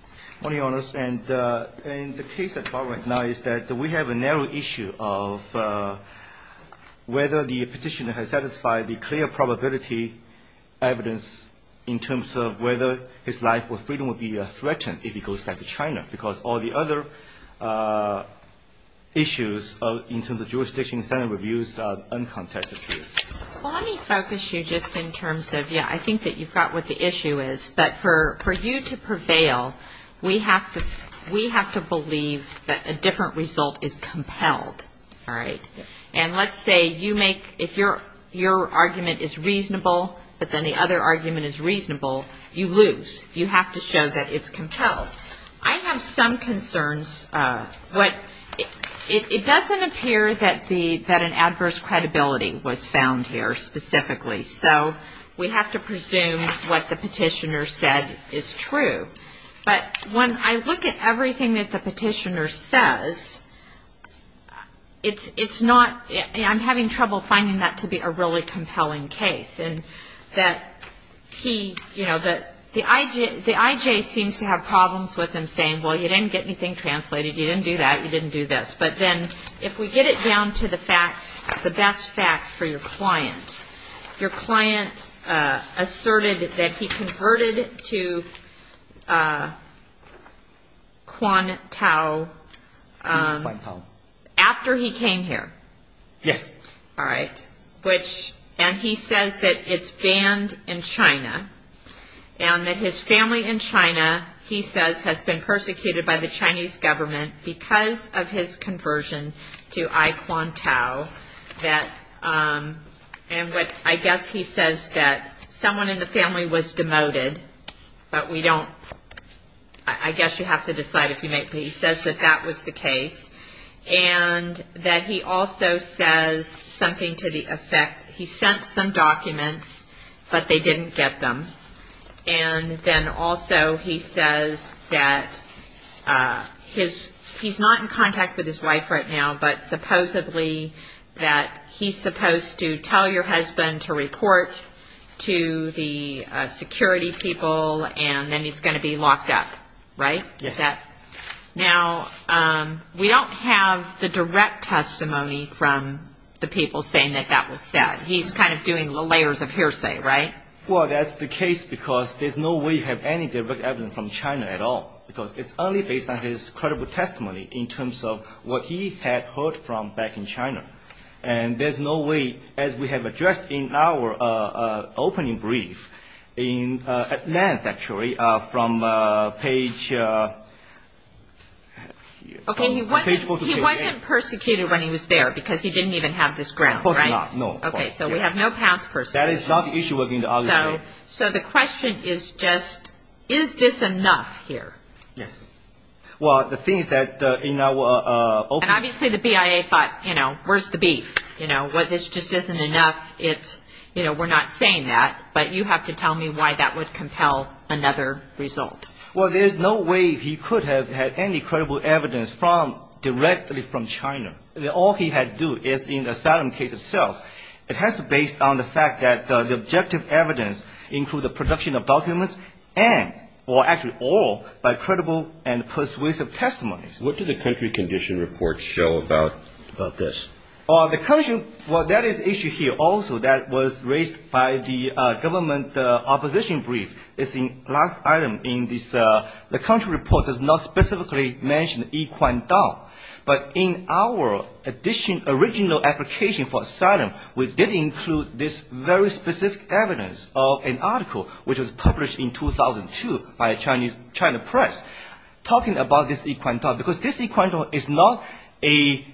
Good morning, Your Honors. And the case at bar right now is that we have a narrow issue of whether the petitioner has satisfied the clear probability evidence in terms of whether his life or freedom would be threatened if he goes back to China. Because all the other issues in terms of jurisdiction standard reviews are uncontested. Well, let me focus you just in terms of, yeah, I think that you've got what the issue is. But for you to prevail, we have to believe that a different result is compelled, all right? And let's say you make, if your argument is reasonable, but then the other argument is reasonable, you lose. You have to show that it's compelled. So I have some concerns. It doesn't appear that an adverse credibility was found here specifically. So we have to presume what the petitioner said is true. But when I look at everything that the petitioner says, it's not, I'm having trouble finding that to be a really compelling case. And that he, you know, the IJ seems to have problems with him saying, well, you didn't get anything translated, you didn't do that, you didn't do this. But then if we get it down to the facts, the best facts for your client, your client asserted that he converted to Quan Tao after he came here. Yes. All right. Which, and he says that it's banned in China and that his family in China, he says, has been persecuted by the Chinese government because of his conversion to I Quan Tao. And I guess he says that someone in the family was demoted, but we don't, I guess you have to decide if you make, but he says that that was the case and that he also says something to the effect, he sent some documents, but they didn't get them. And then also he says that his, he's not in contact with his wife right now, but supposedly that he's supposed to tell your husband to report to the security people and then he's going to be locked up. Right? Now, we don't have the direct testimony from the people saying that that was said. He's kind of doing the layers of hearsay, right? Well, that's the case because there's no way you have any direct evidence from China at all, because it's only based on his credible testimony in terms of what he had heard from back in China. And there's no way, as we have addressed in our opening brief in advance, actually, from page. Okay. He wasn't persecuted when he was there because he didn't even have this ground. No. Okay. So we have no past persecution. That is not the issue. So the question is just, is this enough here? Yes. Well, the thing is that in our. And obviously the BIA thought, you know, where's the beef? You know what? This just isn't enough. It's you know, we're not saying that, but you have to tell me why that would compel another result. Well, there's no way he could have had any credible evidence from directly from China. All he had to do is in asylum case itself. It has to based on the fact that the objective evidence include the production of documents and or actually all by credible and persuasive testimony. What did the country condition report show about this? Well, the country. Well, that is issue here. Also, that was raised by the government. The opposition brief is in last item in this. The country report does not specifically mention equine dog, but in our addition, original application for asylum. We did include this very specific evidence of an article which was published in 2002 by a Chinese China press talking about this equine dog, because this equine dog is not a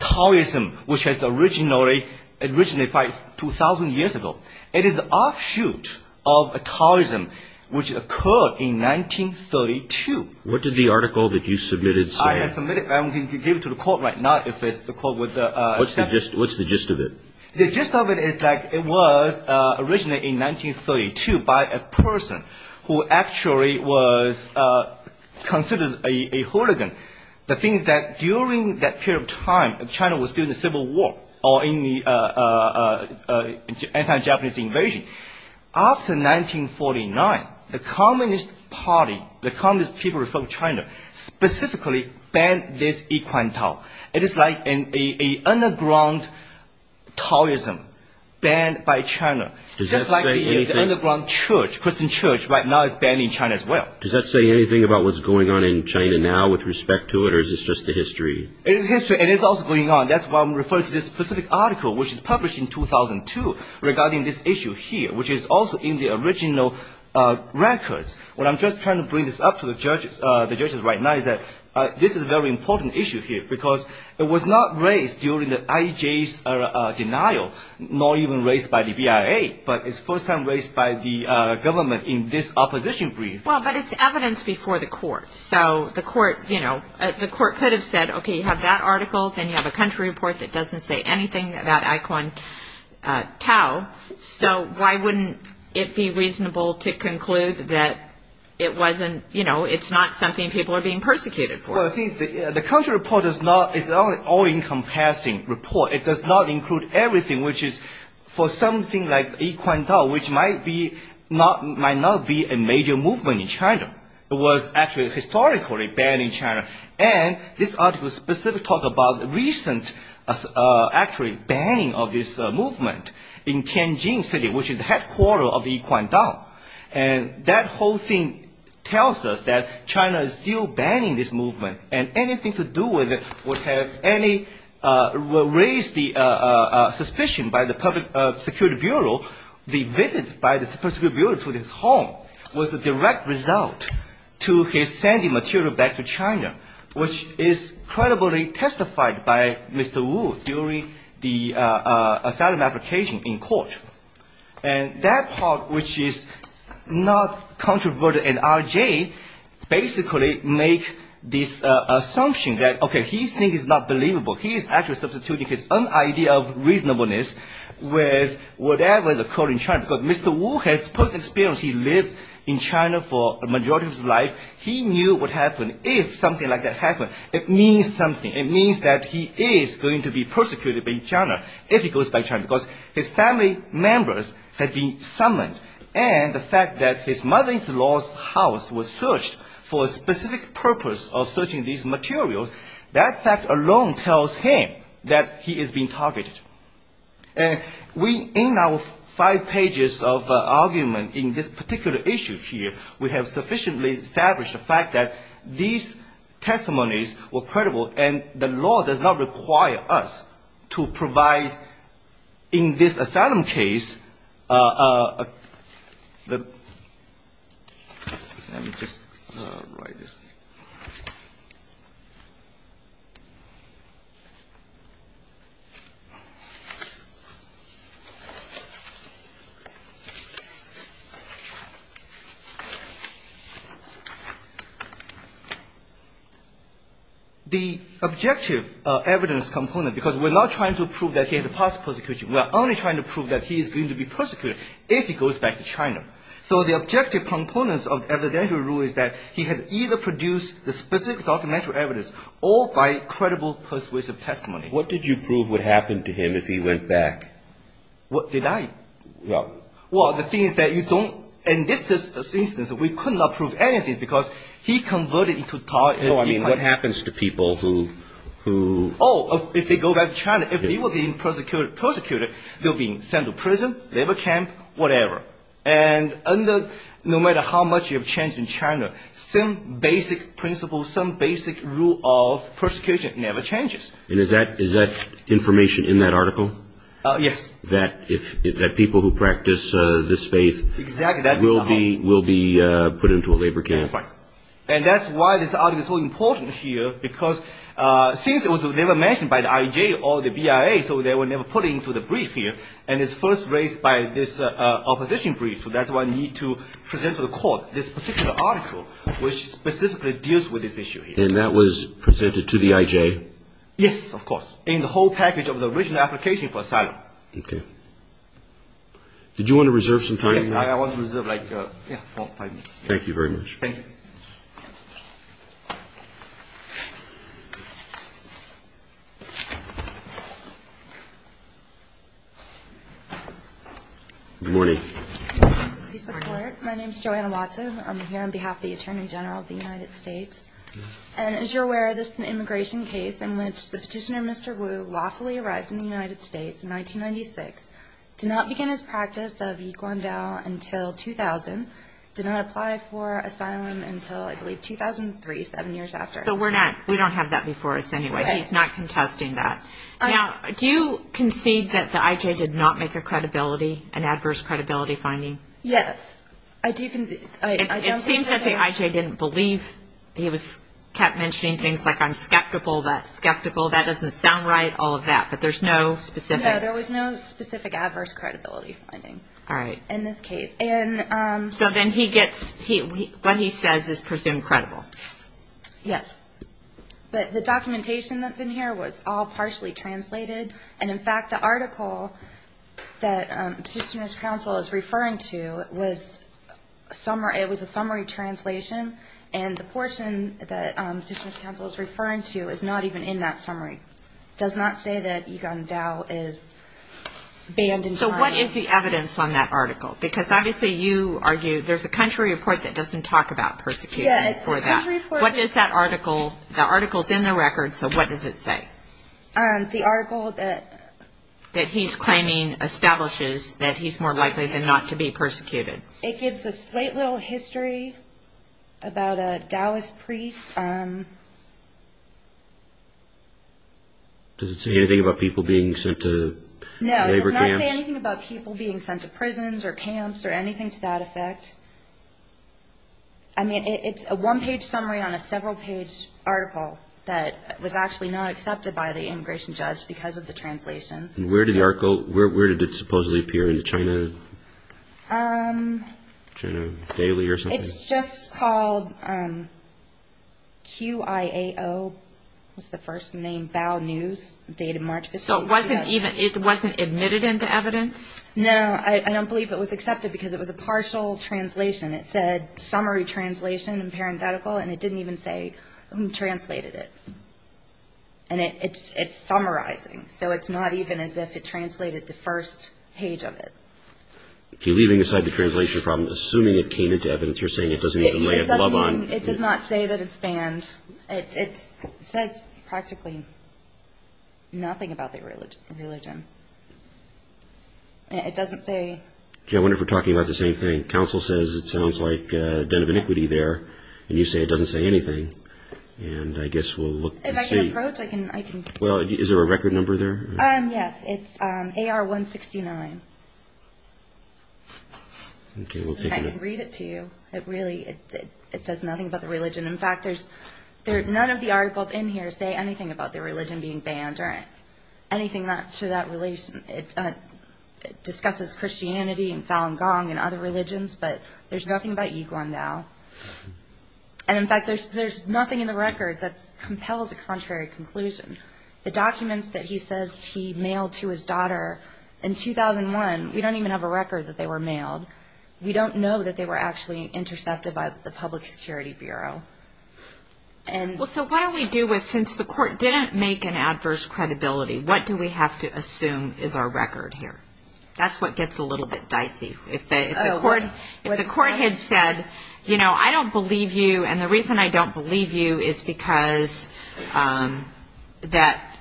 tourism, which has originally originated 2000 years ago. It is the offshoot of a tourism, which occurred in 1932. What did the article that you submitted say? I submitted. I'm going to give it to the court right now. If it's the court with the. What's the gist? What's the gist of it? The gist of it is like it was originally in 1932 by a person who actually was considered a hooligan. The thing is that during that period of time, China was still in the Civil War or in the anti-Japanese invasion. After 1949, the Communist Party, the Communist People's Republic of China specifically banned this equine dog. It is like an underground tourism banned by China. Does that say anything? Just like the underground Christian church right now is banned in China as well. Does that say anything about what's going on in China now with respect to it, or is this just the history? It is history, and it's also going on. That's why I'm referring to this specific article, which was published in 2002 regarding this issue here, which is also in the original records. What I'm just trying to bring this up to the judges right now is that this is a very important issue here, because it was not raised during the IJ's denial, nor even raised by the BIA, but it's the first time raised by the government in this opposition brief. But it's evidence before the court, so the court could have said, okay, you have that article, then you have a country report that doesn't say anything about equine tau, so why wouldn't it be reasonable to conclude that it's not something people are being persecuted for? The country report is an all-encompassing report. It does not include everything which is for something like equine tau, which might not be a major movement in China. It was actually historically banned in China, and this article specifically talks about the recent actually banning of this movement in Tianjin City, which is the headquarter of the equine tau. And that whole thing tells us that China is still banning this movement, and anything to do with it would have raised the suspicion by the Public Security Bureau. The visit by the Public Security Bureau to his home was a direct result to his sending material back to China, which is credibly testified by Mr. Wu during the asylum application in court. And that part, which is not controversial in RJ, basically make this assumption that, okay, he thinks it's not believable. He is actually substituting his own idea of reasonableness with whatever is occurring in China, because Mr. Wu has personal experience. He lived in China for a majority of his life. He knew what would happen if something like that happened. It means something. It means that he is going to be persecuted by China if he goes back to China, because his family members had been summoned, and the fact that his mother-in-law's house was searched for a specific purpose of searching these materials, that fact alone tells him that he is being targeted. And we, in our five pages of argument in this particular issue here, we have sufficiently established the fact that these testimonies were credible, and the law does not require us to provide in this asylum case the – let me just write this. The objective evidence component, because we're not trying to prove that he had a past persecution. We're only trying to prove that he is going to be persecuted if he goes back to China. So the objective components of evidential rule is that he had either produced the specific documentary evidence, or by credible persuasive testimony. What did you prove would happen to him if he went back? What did I? Well, the thing is that you don't – in this instance, we could not prove anything, because he converted into – No, I mean what happens to people who – Oh, if they go back to China. If they were being persecuted, they would be sent to prison, labor camp, whatever. And no matter how much you have changed in China, some basic principle, some basic rule of persecution never changes. And is that information in that article? Yes. That people who practice this faith will be put into a labor camp? That's right. And that's why this article is so important here, because since it was never mentioned by the IJ or the BIA, so they were never put into the brief here, and it's first raised by this opposition brief, so that's why you need to present to the court this particular article, which specifically deals with this issue. And that was presented to the IJ? Yes, of course, in the whole package of the original application for asylum. Okay. Did you want to reserve some time for that? Yes, I want to reserve like four or five minutes. Thank you very much. Thank you. Good morning. Good morning. My name is Joanna Watson. I'm here on behalf of the Attorney General of the United States. And as you're aware, this is an immigration case in which the petitioner, Mr. Wu, lawfully arrived in the United States in 1996, did not begin his practice of Yiquan vow until 2000, did not apply for asylum until, I believe, 2003, seven years after. So we don't have that before us anyway. Right. He's not contesting that. Now, do you concede that the IJ did not make a credibility, an adverse credibility finding? Yes. I do. It seems like the IJ didn't believe. He kept mentioning things like, I'm skeptical, that's skeptical, that doesn't sound right, all of that. But there's no specific. No, there was no specific adverse credibility finding in this case. So then he gets, what he says is presumed credible. Yes. But the documentation that's in here was all partially translated. And, in fact, the article that Petitioners' Counsel is referring to was a summary translation. And the portion that Petitioners' Counsel is referring to is not even in that summary. It does not say that Yiquan vow is banned in China. So what is the evidence on that article? Because obviously you argue there's a country report that doesn't talk about persecution for that. What does that article, the article's in the record, so what does it say? The article that he's claiming establishes that he's more likely than not to be persecuted. It gives a slight little history about a Taoist priest. Does it say anything about people being sent to labor camps? No, it does not say anything about people being sent to prisons or camps or anything to that effect. I mean, it's a one-page summary on a several-page article that was actually not accepted by the immigration judge because of the translation. And where did the article, where did it supposedly appear in the China Daily or something? It's just called QIAO, was the first name, Bao News, dated March 15th. So it wasn't even, it wasn't admitted into evidence? No, I don't believe it was accepted because it was a partial translation. It said summary translation and parenthetical, and it didn't even say who translated it. And it's summarizing, so it's not even as if it translated the first page of it. Okay, leaving aside the translation problem, assuming it came into evidence, you're saying it doesn't even lay a glove on. It says practically nothing about the religion. It doesn't say... I wonder if we're talking about the same thing. Counsel says it sounds like a den of iniquity there, and you say it doesn't say anything. And I guess we'll look and see. If I can approach, I can... Well, is there a record number there? Yes, it's AR-169. Okay, we'll take a look. I can read it to you. It really, it says nothing about the religion. In fact, none of the articles in here say anything about the religion being banned or anything to that relation. It discusses Christianity and Falun Gong and other religions, but there's nothing about Yiguan now. And, in fact, there's nothing in the record that compels a contrary conclusion. The documents that he says he mailed to his daughter in 2001, we don't even have a record that they were mailed. We don't know that they were actually intercepted by the Public Security Bureau. Well, so what do we do with, since the court didn't make an adverse credibility, what do we have to assume is our record here? That's what gets a little bit dicey. If the court had said, you know, I don't believe you, and the reason I don't believe you is because that,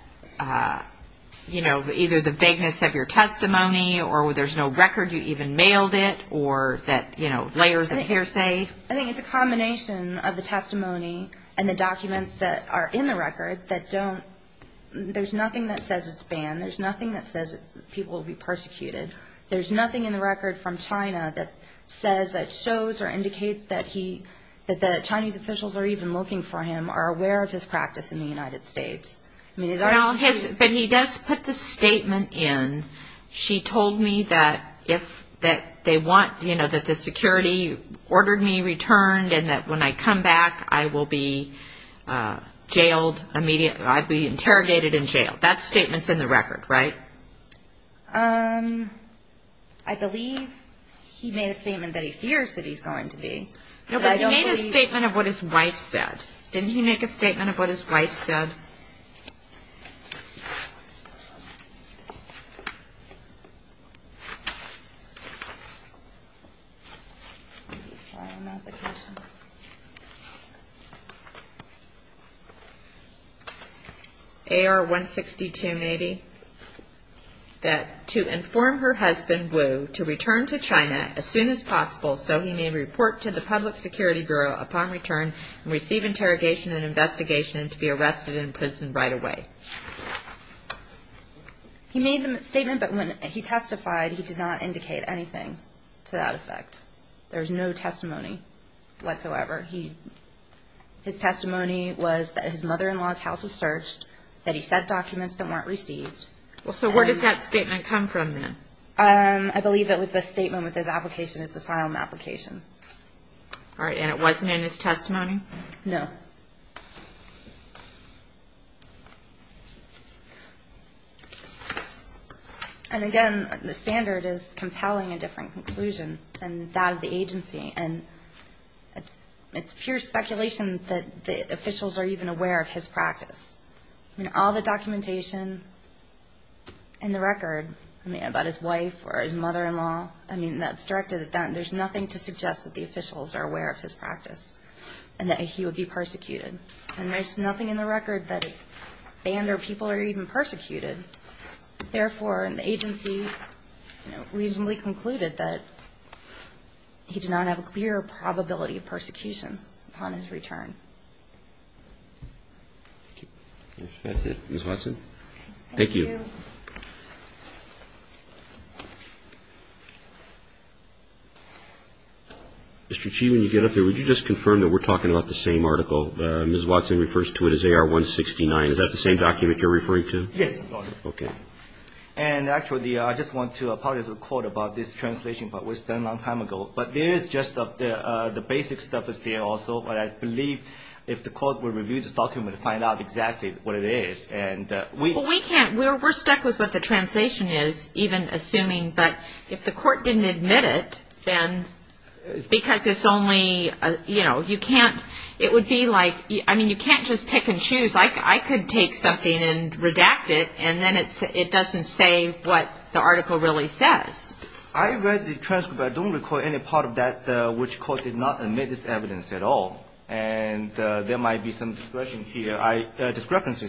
you know, either the vagueness of your testimony or there's no record you even mailed it or that, you know, layers of hearsay. I think it's a combination of the testimony and the documents that are in the record that don't, there's nothing that says it's banned. There's nothing that says people will be persecuted. There's nothing in the record from China that says, that shows, or indicates that the Chinese officials are even looking for him, are aware of his practice in the United States. But he does put the statement in, she told me that if, that they want, you know, that the security ordered me returned and that when I come back I will be jailed, I'd be interrogated and jailed. That statement's in the record, right? I believe he made a statement that he fears that he's going to be. No, but he made a statement of what his wife said. Didn't he make a statement of what his wife said? AR-162 Navy, that to inform her husband Wu to return to China as soon as possible so he may report to the Public Security Bureau upon return and receive interrogation and investigation and to be arrested and imprisoned right away. He made the statement, but when he testified, he did not indicate anything to that effect. There's no testimony whatsoever. His testimony was that his mother-in-law's house was searched, that he sent documents that weren't received. Well, so where does that statement come from then? I believe it was the statement with his application, his asylum application. All right, and it wasn't in his testimony? No. And again, the standard is compelling a different conclusion than that of the agency, and it's pure speculation that the officials are even aware of his practice. I mean, all the documentation in the record, I mean, about his wife or his mother-in-law, I mean, that's directed at them. There's nothing to suggest that the officials are aware of his practice and that he would be persecuted. And there's nothing in the record that it's banned or people are even persecuted. Therefore, the agency reasonably concluded that he did not have a clear probability of persecution upon his return. That's it. Ms. Watson. Thank you. Mr. Chi, when you get up there, would you just confirm that we're talking about the same article? Ms. Watson refers to it as AR-169. Is that the same document you're referring to? Yes, Your Honor. Okay. And actually, I just want to apologize to the Court about this translation part. It was done a long time ago. But there is just the basic stuff is there also, but I believe if the Court would review this document and find out exactly what it is. Well, we can't. We're stuck with what the translation is, even assuming. But if the Court didn't admit it, then because it's only, you know, you can't, it would be like, I mean, you can't just pick and choose. I could take something and redact it, and then it doesn't say what the article really says. I read the transcript, but I don't recall any part of that which the Court did not admit as evidence at all. And there might be some discrepancies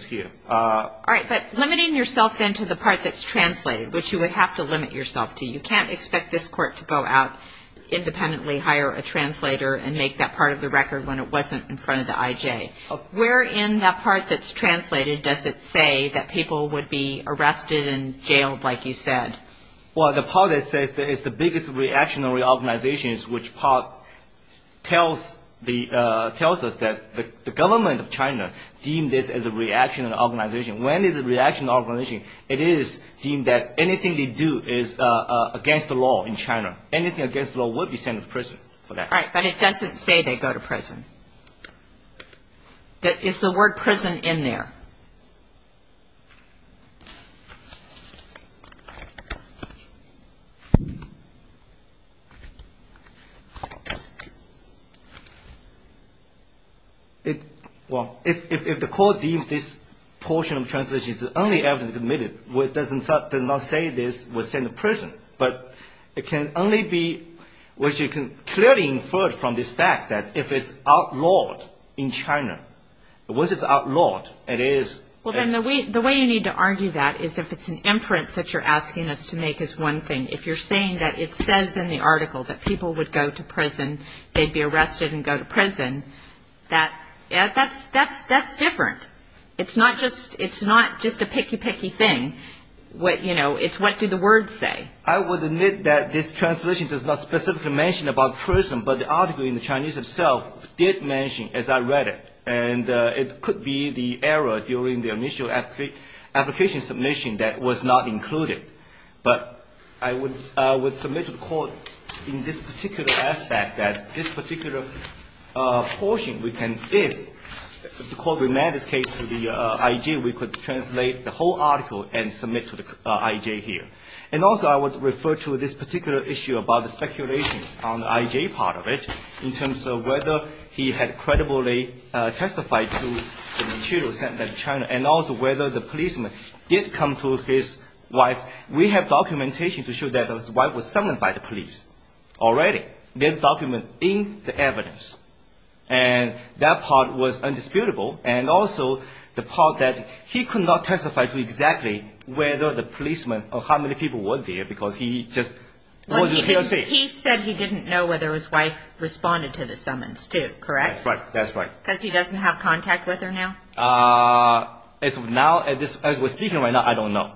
here. All right. But limiting yourself then to the part that's translated, which you would have to limit yourself to, you can't expect this Court to go out independently, hire a translator, and make that part of the record when it wasn't in front of the IJ. Where in that part that's translated does it say that people would be arrested and jailed, like you said? Well, the part that says that it's the biggest reactionary organization is which part tells us that the government of China deemed this as a reactionary organization. When it's a reactionary organization, it is deemed that anything they do is against the law in China. Anything against the law would be sent to prison for that. All right. But it doesn't say they go to prison. Is the word prison in there? Well, if the Court deems this portion of translation as the only evidence admitted, it does not say this was sent to prison. But it can only be which you can clearly infer from this fact that if it's outlawed in China, once it's outlawed, it is... Well, then the way you need to argue that is if it's an inference that you're asking us to make is one thing. If you're saying that it says in the article that people would go to prison, they'd be arrested and go to prison, that's different. It's not just a picky, picky thing. It's what do the words say. I would admit that this translation does not specifically mention about prison, but the article in the Chinese itself did mention, as I read it. And it could be the error during the initial application submission that was not included. But I would submit to the Court in this particular aspect that this particular portion, we can, if the Court remanded this case to the IEJ, we could translate the whole article and submit to the IEJ here. And also I would refer to this particular issue about the speculation on the IEJ part of it in terms of whether he had credibly testified to the materials sent by China and also whether the policeman did come to his wife. We have documentation to show that his wife was summoned by the police already. There's document in the evidence. And that part was indisputable. And also the part that he could not testify to exactly whether the policeman or how many people were there because he just wasn't here to see it. He said he didn't know whether his wife responded to the summons, too, correct? That's right. Because he doesn't have contact with her now? As of now, as we're speaking right now, I don't know.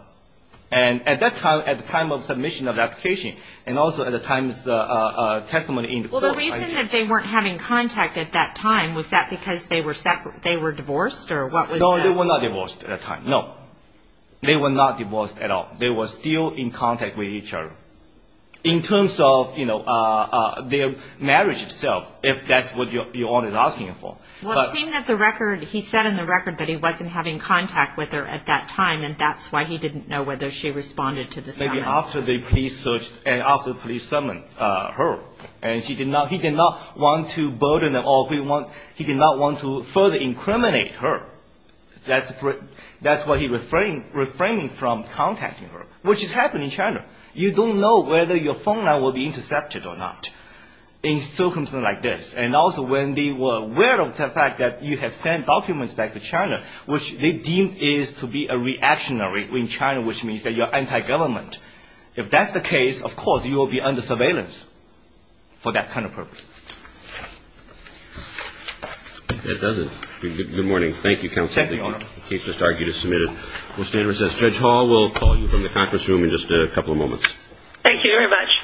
And at that time, at the time of submission of the application and also at the time of testimony in the Court of IJ. It seemed that they weren't having contact at that time. Was that because they were divorced or what was that? No, they were not divorced at that time. No, they were not divorced at all. They were still in contact with each other. In terms of, you know, their marriage itself, if that's what you're asking for. Well, it seemed that the record, he said in the record that he wasn't having contact with her at that time, and that's why he didn't know whether she responded to the summons. After the police searched and after the police summoned her. And he did not want to burden her or he did not want to further incriminate her. That's why he refrained from contacting her, which is happening in China. You don't know whether your phone line will be intercepted or not in circumstances like this. And also when they were aware of the fact that you have sent documents back to China, which they deem is to be a reactionary in China, which means that you're anti-government. If that's the case, of course you will be under surveillance for that kind of purpose. That does it. Good morning. Thank you, counsel. Thank you, Your Honor. The case just argued is submitted. We'll stand and recess. Thank you very much. Thank you.